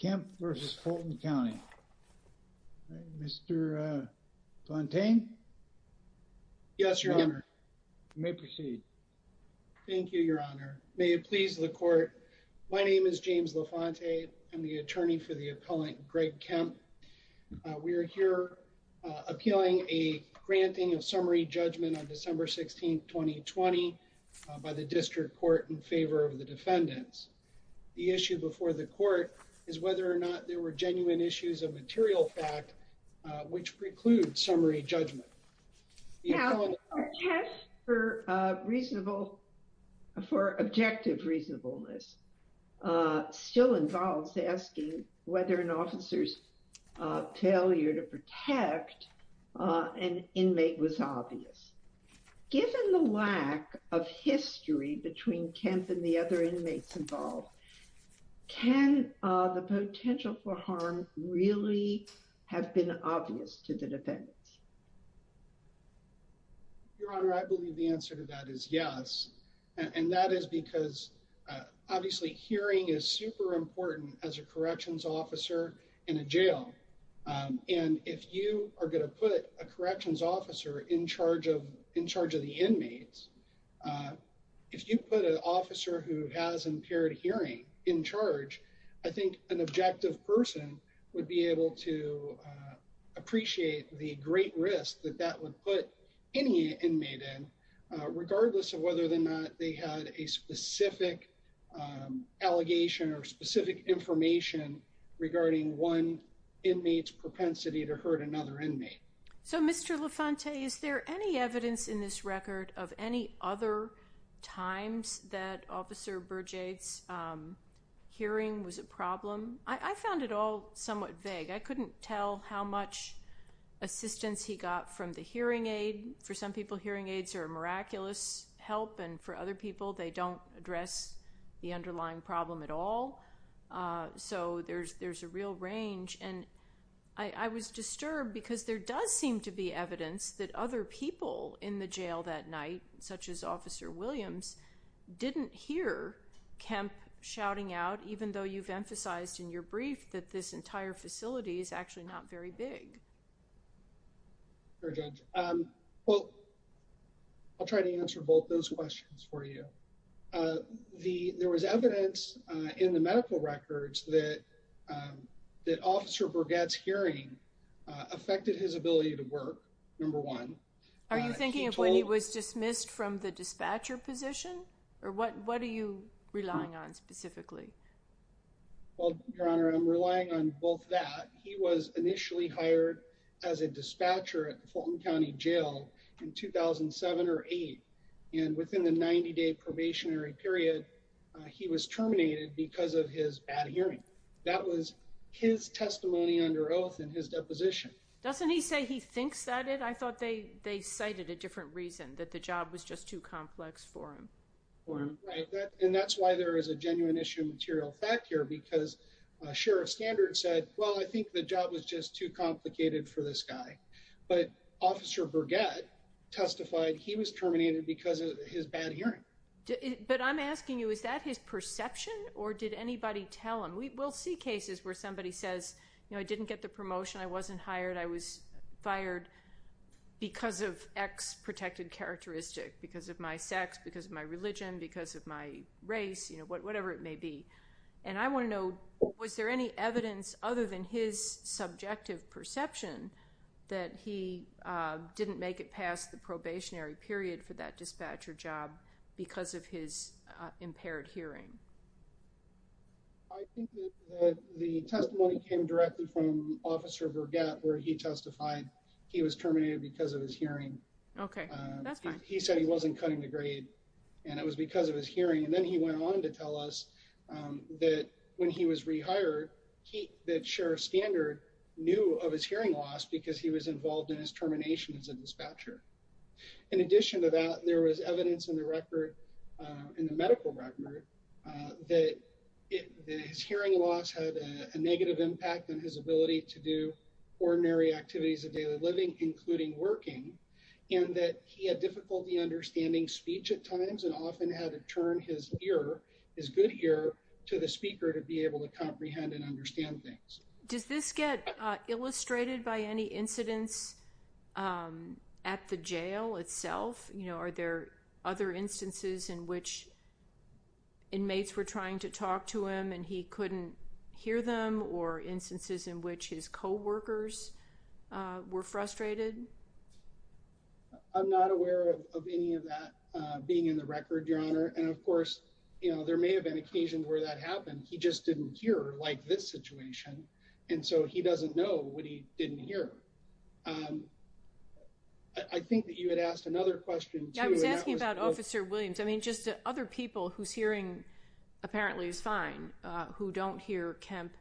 Kemp v. Fulton County. Mr. LaFontaine? Yes, Your Honor. You may proceed. Thank you, Your Honor. May it please the Court. My name is James LaFontaine. I'm the attorney for the appellant Greg Kemp. We are here appealing a granting of summary judgment on December 16, 2020 by the District Court in favor of the defendants. The issue before the Court is whether or not there were genuine issues of material fact which preclude summary judgment. Now, our test for objective reasonableness still involves asking whether an officer's ability to protect an inmate was obvious. Given the lack of history between Kemp and the other inmates involved, can the potential for harm really have been obvious to the defendants? Your Honor, I believe the answer to that is yes, and that is because obviously hearing is super important. If you are going to put a corrections officer in charge of the inmates, if you put an officer who has impaired hearing in charge, I think an objective person would be able to appreciate the great risk that that would put any inmate in, regardless of whether or not they had a specific allegation or specific information regarding one inmate's propensity to hurt another inmate. So, Mr. LaFontaine, is there any evidence in this record of any other times that Officer Berger's hearing was a problem? I found it all somewhat vague. I couldn't tell how much assistance he got from the hearing aid. For some people, hearing aids are a miraculous help, and for other people, they don't address the underlying problem at all. So, there's a real range, and I was disturbed because there does seem to be evidence that other people in the jail that night, such as Officer Williams, didn't hear Kemp shouting out, even though you've emphasized in your questions. There was evidence in the medical records that Officer Berger's hearing affected his ability to work, number one. Are you thinking of when he was dismissed from the dispatcher position, or what are you relying on specifically? Well, Your Honor, I'm relying on both that. He was in the 90-day probationary period. He was terminated because of his bad hearing. That was his testimony under oath in his deposition. Doesn't he say he thinks that it? I thought they cited a different reason, that the job was just too complex for him. Right, and that's why there is a genuine issue of material fact here, because Sheriff Standard said, well, I think the testified he was terminated because of his bad hearing. But I'm asking you, is that his perception, or did anybody tell him? We'll see cases where somebody says, you know, I didn't get the promotion, I wasn't hired, I was fired because of X protected characteristic, because of my sex, because of my religion, because of my race, you know, whatever it may be. And I want to know, was there any evidence other than his subjective perception that he didn't make it past the probationary period for that dispatcher job because of his impaired hearing? I think that the testimony came directly from Officer Vergette, where he testified he was terminated because of his hearing. Okay, that's fine. He said he wasn't cutting the grade, and it was because of his hearing. And then he went on to tell us that when he was rehired, that Sheriff Standard knew of his hearing loss because he was involved in his termination as a dispatcher. In addition to that, there was evidence in the record, in the medical record, that his hearing loss had a negative impact on his ability to do ordinary activities of times and often had to turn his ear, his good ear, to the speaker to be able to comprehend and understand things. Does this get illustrated by any incidents at the jail itself? You know, are there other instances in which inmates were trying to talk to him and he couldn't hear them or instances in which his co-workers were frustrated? I'm not aware of any of that being in the record, Your Honor. And of course, you know, there may have been occasions where that happened. He just didn't hear, like this situation, and so he doesn't know what he didn't hear. I think that you had asked another question, too. I was asking about Officer Williams. I mean, just other people whose hearing apparently is fine, who don't hear Kemp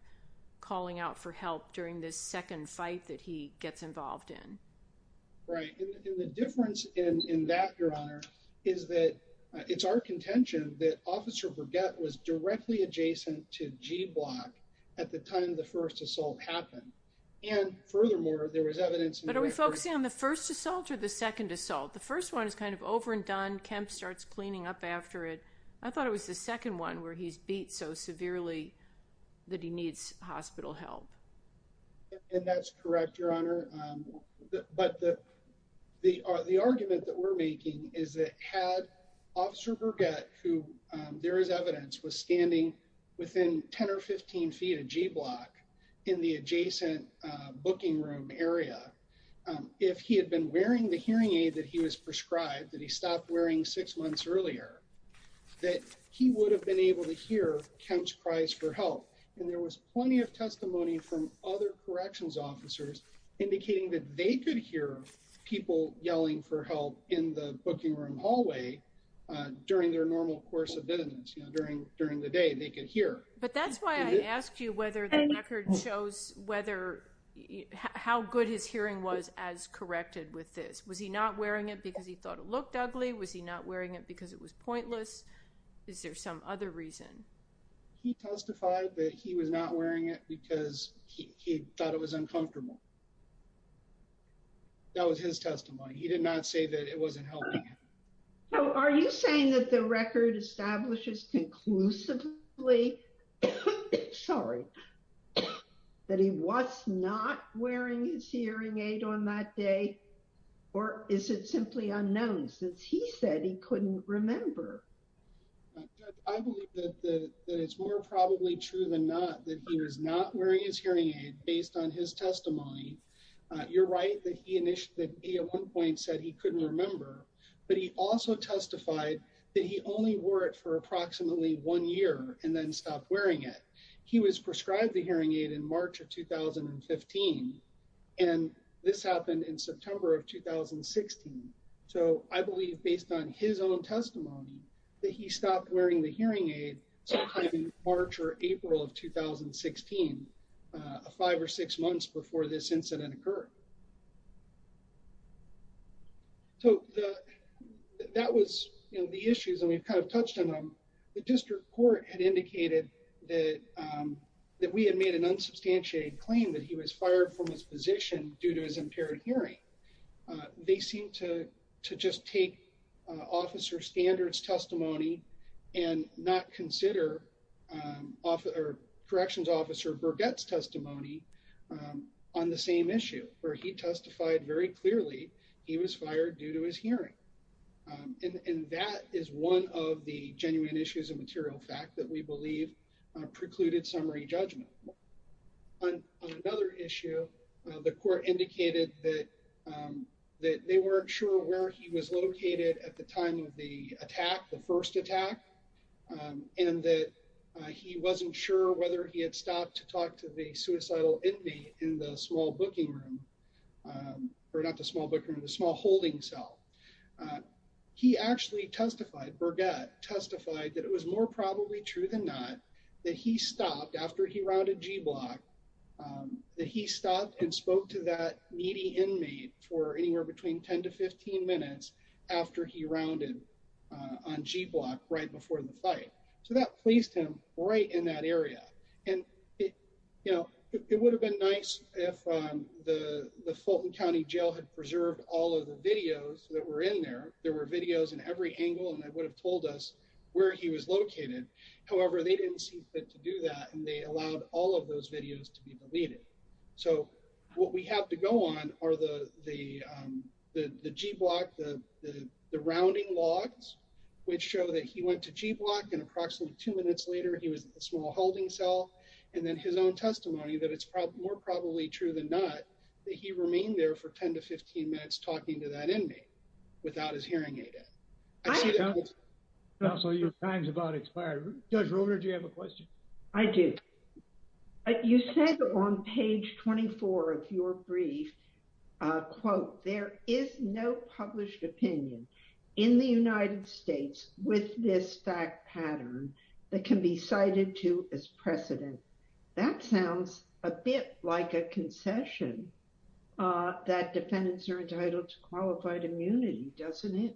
calling out for help during this second fight that he gets involved in. Right. And the difference in that, Your Honor, is that it's our contention that Officer Burgett was directly adjacent to G Block at the time the first assault happened. And furthermore, there was evidence... But are we focusing on the first assault or the second assault? The first one is kind of over and done. Kemp starts cleaning up after it. I thought it was the second one where he's beat so severely that he needs hospital help. And that's correct, Your Honor. But the argument that we're making is that had Officer Burgett, who there is evidence, was standing within 10 or 15 feet of G Block in the adjacent booking room area, if he had been wearing the hearing aid that he was prescribed, that he stopped wearing six months earlier, that he would have been able to hear Kemp's cries for help. And there was plenty of testimony from other corrections officers indicating that they could hear people yelling for help in the booking room hallway during their normal course of business. During the day, they could hear. But that's why I asked you whether the record shows how good his hearing was as corrected with this. Was he not wearing it because he thought it looked ugly? Was he not wearing it because it was pointless? Is there some other reason? He testified that he was not wearing it because he thought it was uncomfortable. That was his testimony. He did not say that it wasn't helping. So are you saying that the record establishes conclusively, sorry, that he was not wearing his hearing aid on that day? Or is it simply unknown since he said he couldn't remember? I believe that it's more probably true than not that he was not wearing his hearing aid based on his testimony. You're right that he at one point said he couldn't remember. But he also testified that he only wore it for approximately one year and then stopped wearing it. He was prescribed the hearing aid in March of 2015. And this happened in September of 2016. So I believe based on his own testimony that he stopped wearing the hearing aid sometime in March or April of 2016, five or six months before this incident occurred. So that was the issues and we've kind of touched on them. The district court had indicated that we had made an unsubstantiated claim that he was fired from his position due to his impaired hearing. They seem to just take officer standards testimony and not consider corrections officer Burgett's testimony on the same issue where he testified very clearly he was fired due to his hearing. And that is one of the genuine issues of material fact that we believe precluded summary judgment. On another issue, the court indicated that they weren't sure where he was located at the time of the attack, the first attack, and that he wasn't sure whether he had stopped to talk to the suicidal inmate in the small booking room or not the small booking room, the small holding cell. He actually testified, Burgett testified that it was more probably true than not that he stopped after he rounded G block, that he stopped and spoke to that needy inmate for anywhere between 10 to 15 minutes after he rounded on G block right before the fight. So that pleased him right in that area. And it would have been nice if the Fulton County Jail had preserved all of the videos that were in there. There were videos in every angle and that would have told us where he was located. However, they didn't see fit to do that and they allowed all of those videos to be deleted. So what we have to go on are the G block, the rounding logs, which show that he went to G block and approximately two minutes later, he was in the small holding cell. And then his own testimony that it's more probably true than not that he remained there for 10 to 15 minutes talking to that inmate without his hearing aid in. Counselor, your time's about expired. Judge Roeder, do you have a question? I do. You said on page 24 of your brief, quote, there is no published opinion in the United States with this fact pattern that can be cited to as precedent. That sounds a bit like a concession that defendants are entitled to qualified immunity, doesn't it?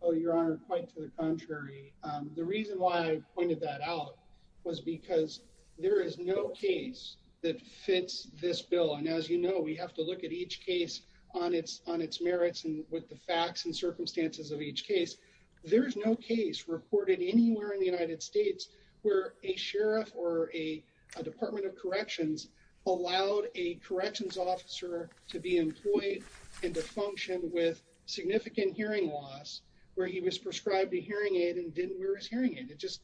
Oh, your honor, quite to the contrary. The reason why I pointed that out was because there is no case that fits this bill. And as you know, we have to look at each case on its merits and with the facts and circumstances of each case. There is no case reported anywhere in the United States where a sheriff or a department of corrections allowed a corrections officer to be employed and to function with significant hearing loss where he was prescribed a hearing aid and didn't wear his hearing aid. It just,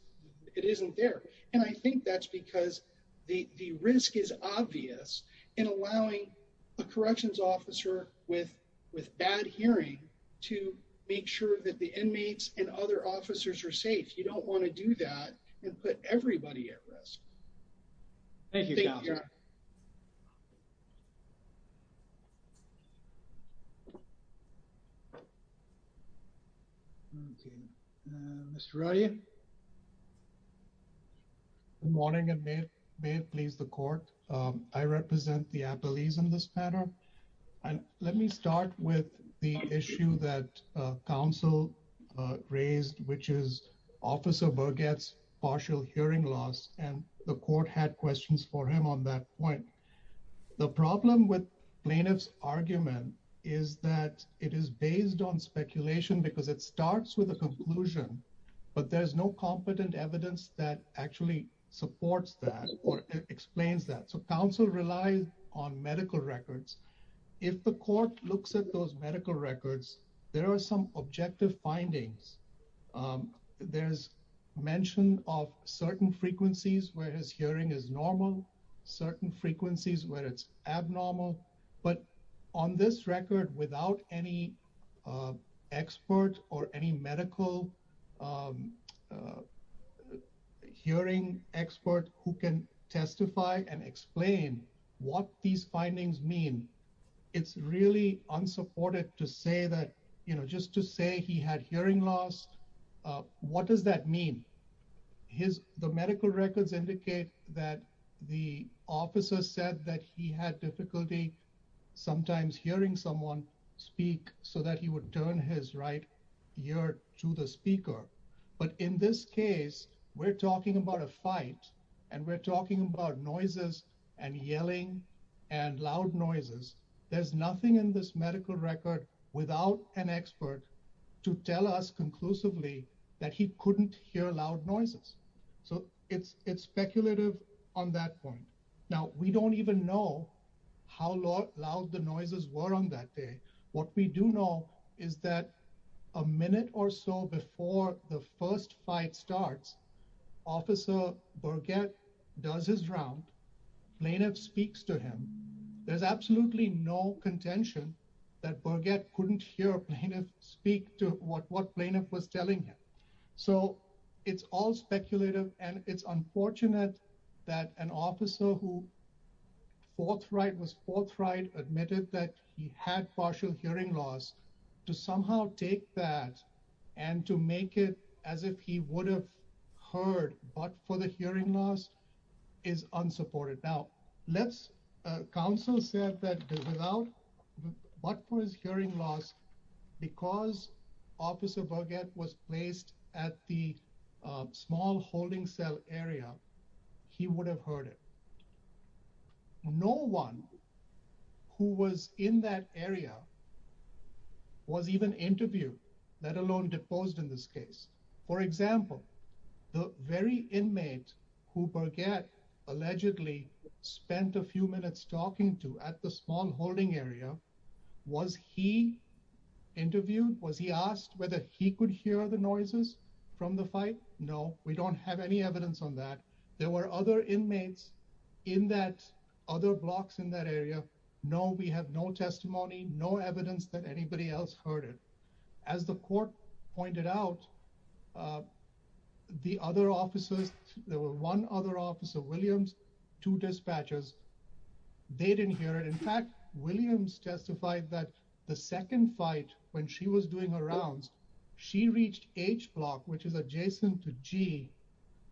it isn't there. And I think that's because the risk is obvious in allowing a corrections officer with bad hearing to make sure that the inmates and other officers are safe. You don't want to do that and put everybody at risk. Thank you. Mr. Rodia. Good morning and may it please the court. I represent the appellees in this matter. And let me start with the issue that counsel raised, which is officer Burgett's partial hearing loss. And the court had questions for him on that point. The problem with plaintiff's argument is that it is based on speculation because it starts with a conclusion, but there's no competent evidence that actually supports that or explains that. So counsel relies on medical records. If the court looks at those medical records, there are some objective findings. There's mention of certain frequencies where his hearing is normal, certain frequencies where it's abnormal, but on this record without any expert or any medical hearing expert who can testify and explain what these findings mean, it's really unsupported to say that, you know, just to say he had hearing loss, what does that mean? The medical records indicate that the officer said that he had difficulty sometimes hearing someone speak so that he would turn his right ear to the speaker. But in this case, we're talking about a fight and we're talking about noises and yelling and loud noises. There's nothing in this medical record without an expert to tell us conclusively that he couldn't hear loud noises. So it's speculative on that point. Now, we don't even know how loud the noises were on that day. What we do know is that a minute or so before the first fight starts, officer Burgett does his round, plaintiff speaks to him. There's absolutely no contention that Burgett couldn't hear a plaintiff speak to what plaintiff was telling him. So it's all speculative and it's unfortunate that an officer who forthright was forthright admitted that he had partial hearing loss to somehow take that and to make it as if he would have heard but for the hearing loss is unsupported. Now, let's counsel said that without what was hearing loss because officer Burgett was placed at the small holding cell area, he would have heard it. No one who was in that area was even interviewed, let alone deposed in this case. For example, the very inmate who Burgett allegedly spent a few minutes talking to at the small holding area, was he interviewed? Was he asked whether he could hear the noises from the fight? No, we don't have any evidence on that. There were other inmates in that other blocks in that area. No, we have no testimony, no evidence that anybody else heard it. As the court pointed out, the other officers, there were one other officer, Williams, two dispatchers. They didn't hear it. In fact, Williams testified that the second fight when she was doing her rounds, she reached H block, which is adjacent to G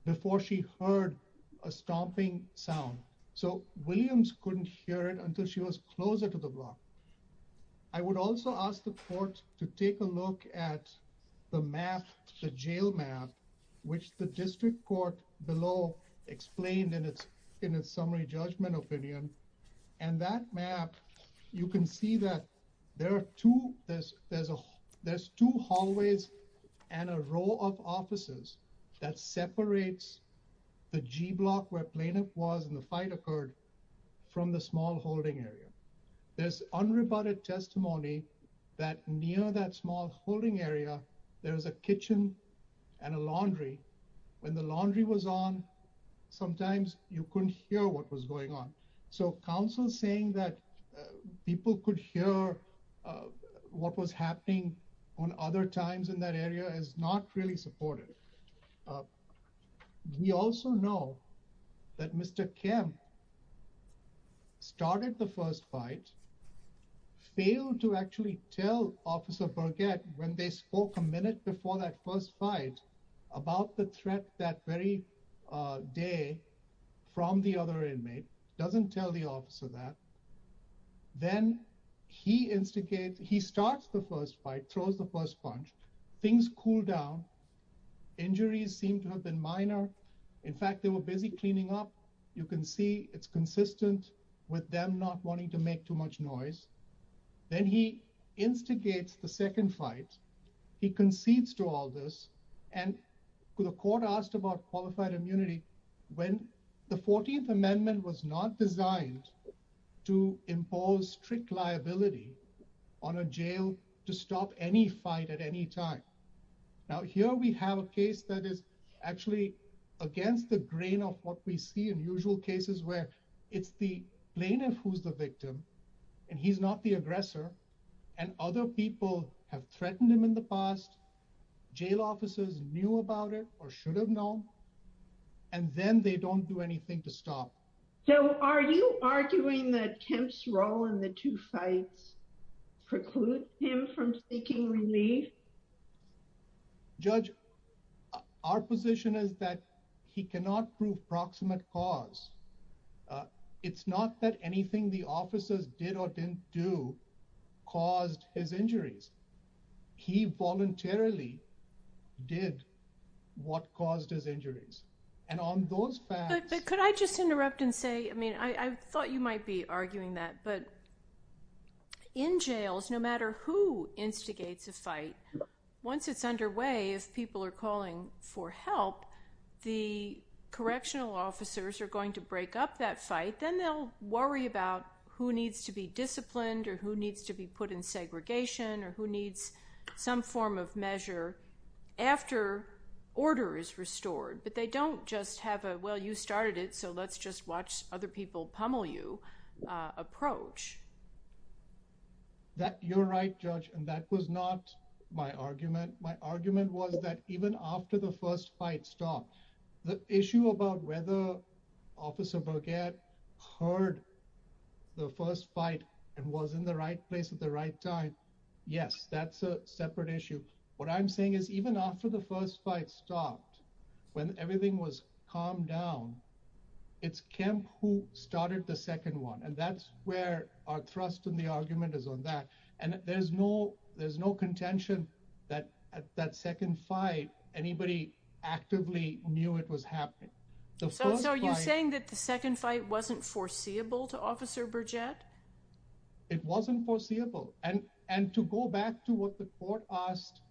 before she heard a stomping sound. So Williams couldn't hear it until she was which the district court below explained in its summary judgment opinion. And that map, you can see that there are two, there's two hallways and a row of offices that separates the G block where plaintiff was in the fight occurred from the small holding area. There's unrebutted testimony that near that small holding area, there was a kitchen and a laundry. When the laundry was on, sometimes you couldn't hear what was going on. So counsel saying that people could hear what was happening on other times in that area is not really supportive. Uh, we also know that Mr. Kim started the first fight, failed to actually tell officer Burgett when they spoke a minute before that first fight about the threat that very, uh, day from the other inmate doesn't tell the officer that then he instigates, he starts the first fight, throws the first punch, things cool down. Injuries seem to have been minor. In fact, they were busy cleaning up. You can see it's consistent with them not wanting to make too much noise. Then he instigates the second fight. He concedes to all this. And the court asked about qualified immunity when the 14th amendment was not designed to impose strict liability on a jail to stop any fight at any time. Now here we have a case that is actually against the grain of what we see in usual cases where it's the plaintiff who's the victim and he's not the aggressor and other people have threatened him in the past. Jail officers knew about it or should have known, and then they don't do anything to stop. So are you arguing that Kim's role in the two fights preclude him from taking relief? Judge, our position is that he cannot prove proximate cause. Uh, it's not that anything the officers did or didn't do caused his injuries. He voluntarily did what caused his injuries. And on those facts, but could I just interrupt and say, I mean, I thought you might be arguing that, but in jails, no matter who instigates a fight, once it's underway, if people are calling for help, the correctional officers are going to break up that fight. Then they'll worry about who needs to be disciplined or who needs to be put in segregation or who needs some form of measure after order is restored, but they don't just have a, well, you started it, so let's just watch other people pummel you, uh, approach. You're right, Judge, and that was not my argument. My argument was that even after the first fight stopped, the issue about whether Officer Burgett heard the first fight and was in the right place at the right time. Yes, that's a separate issue. What I'm saying is even after the first fight stopped, when everything was calmed down, it's Kemp who started the second one. And that's where our thrust in the argument is on that. And there's no, there's no contention that at that second fight, anybody actively knew it was happening. So are you saying that the second fight wasn't foreseeable to Officer Burgett? It wasn't foreseeable. And to go back to what the court asked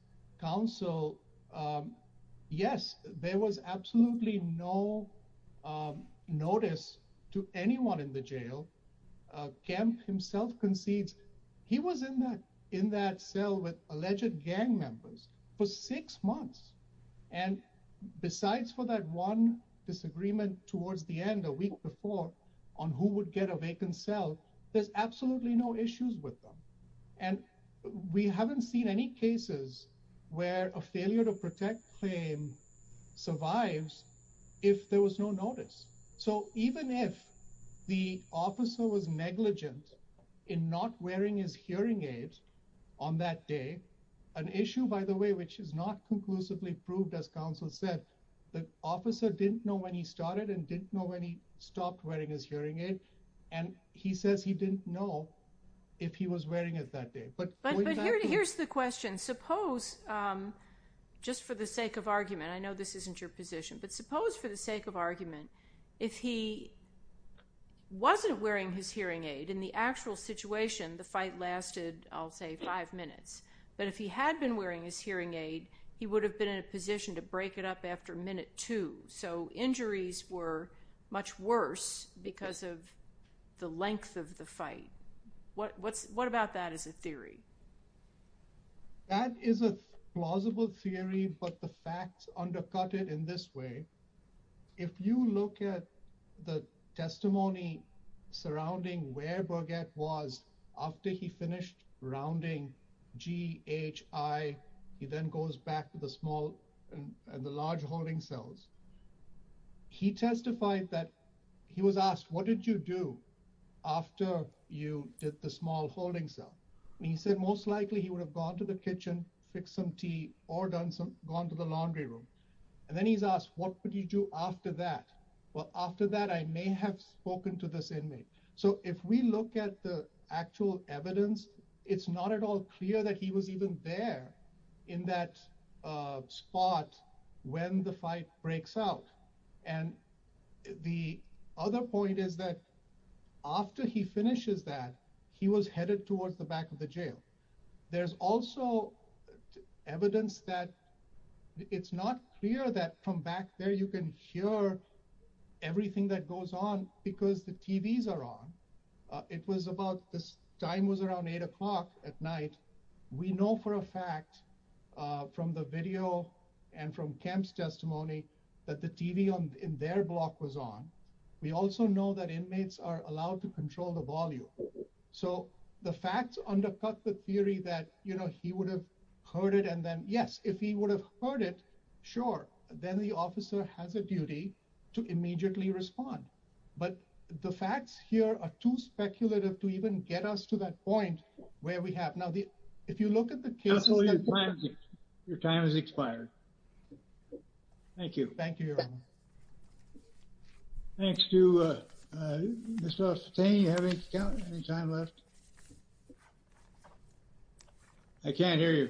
counsel, yes, there was absolutely no notice to anyone in the jail. Kemp himself concedes he was in that cell with alleged gang members for six months. And besides for that one disagreement towards the end a week before on who would get a vacant cell, there's absolutely no issues with them. And we haven't seen any cases where a failure to protect claim survives if there was no notice. So even if the officer was negligent in not wearing his hearing aid on that day, an issue by the way, which is not conclusively proved as counsel said, the officer didn't know when he started and didn't know when he stopped wearing his hearing aid. And he says he didn't know if he was wearing it that day. But here's the question. Suppose, just for the sake of argument, I know this isn't your position, but suppose for the sake of argument, if he wasn't wearing his hearing aid in the actual situation, the fight lasted, I'll say five minutes. But if he had been wearing his hearing aid, he would have been in a position to break it up after minute two. So injuries were much worse because of the length of the fight. What about that as a theory? That is a plausible theory, but the facts undercut it in this way. If you look at the testimony surrounding where Burgett was after he finished rounding G, H, I, he then goes back to the small and the large holding cells. He testified that he was asked, what did you do after you did the small holding cell? And he said, most likely he would have gone to the kitchen, fix some tea or gone to the laundry room. And then he's asked, what would he do after that? Well, after that, I may have spoken to this inmate. So if we look at the there in that spot when the fight breaks out, and the other point is that after he finishes that, he was headed towards the back of the jail. There's also evidence that it's not clear that from back there, you can hear everything that goes on because the TVs are on. It was about, this time was around eight o'clock at night. We know for a fact from the video and from Kemp's testimony that the TV in their block was on. We also know that inmates are allowed to control the volume. So the facts undercut the theory that he would have heard it. And then yes, if he would have heard it, sure. Then the officer has a duty to immediately respond. But the facts here are too speculative to even get us to that point where we have. Now, if you look at the case, your time has expired. Thank you. Thank you. Thanks to Mr. Sustain. You have any time left? I can't hear you.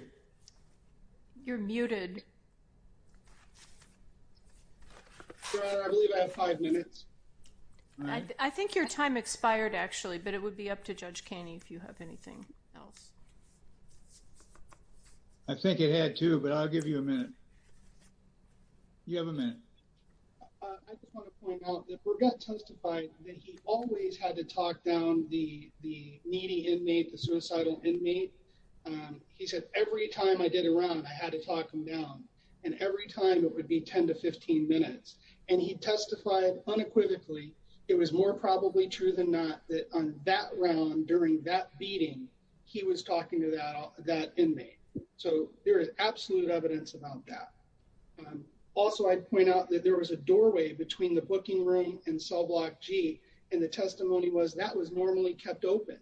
You're muted. I believe I have five minutes. I think your time expired actually, but it would be up to Judge Caney if you have anything else. I think it had to, but I'll give you a minute. You have a minute. I just want to point out that Bergot testified that he always had to talk down the needy inmate, the suicidal inmate. He said, every time I did a round, I had to talk him down. And every time it would be 10 to 15 minutes. And he testified unequivocally. It was more probably true than not that on that round during that beating, he was talking to that inmate. So there is absolute evidence about that. Also, I'd point out that there was a doorway between the booking room and cell block G. And the testimony was that was normally kept open,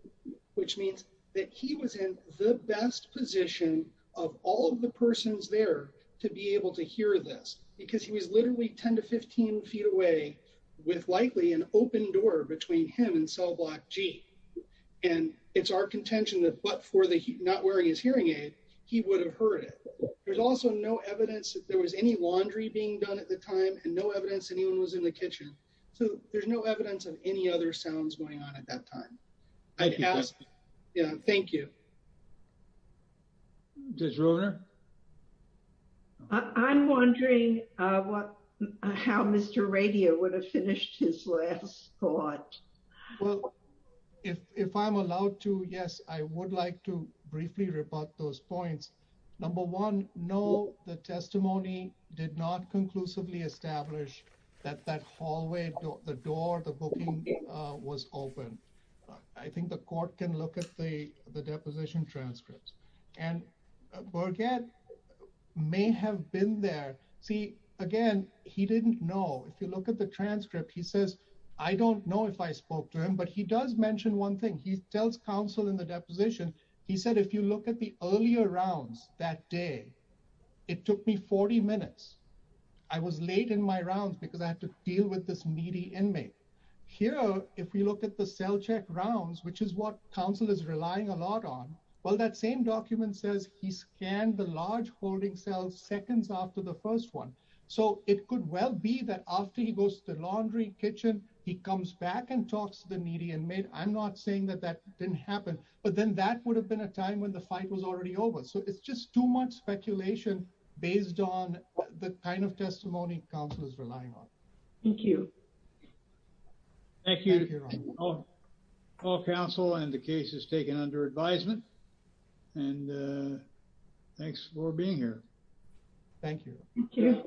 which means that he was in the best position of all of the persons there to be able to hear this because he was literally 10 to 15 feet away with likely an open door between him and cell block G. And it's our contention that but for the not wearing his hearing aid, he would have heard it. There's also no evidence that there was any laundry being done at the time and no evidence anyone was in the kitchen. So there's no evidence of any other sounds going on at that time. I can ask. Yeah, thank you. I'm wondering what, how Mr. radio would have finished his last thought? Well, if I'm allowed to, yes, I would like to briefly rebut those points. Number one, no, the testimony did not conclusively establish that that hallway, the door, the booking was open. I think the court can look at the, the deposition transcripts and forget may have been there. See, again, he didn't know if you look at the transcript, he says, I don't know if I spoke to him, but he does mention one thing he tells counsel in the deposition. He said, if you look at the earlier rounds that day, it took me 40 minutes. I was late in my rounds because I had to deal with this needy inmate here. If we look at the cell check rounds, which is what counsel is relying a lot on. Well, that same document says he scanned the large holding cells seconds after the first one. So it could well be that after he goes to the laundry kitchen, he comes back and talks to the media and made, I'm not saying that that didn't happen, but then that would have been a time when the fight was already over. So it's just too much speculation based on the kind of testimony counsel is relying on. Thank you. Thank you. All counsel and the case is taken under advisement and thanks for being here. Thank you.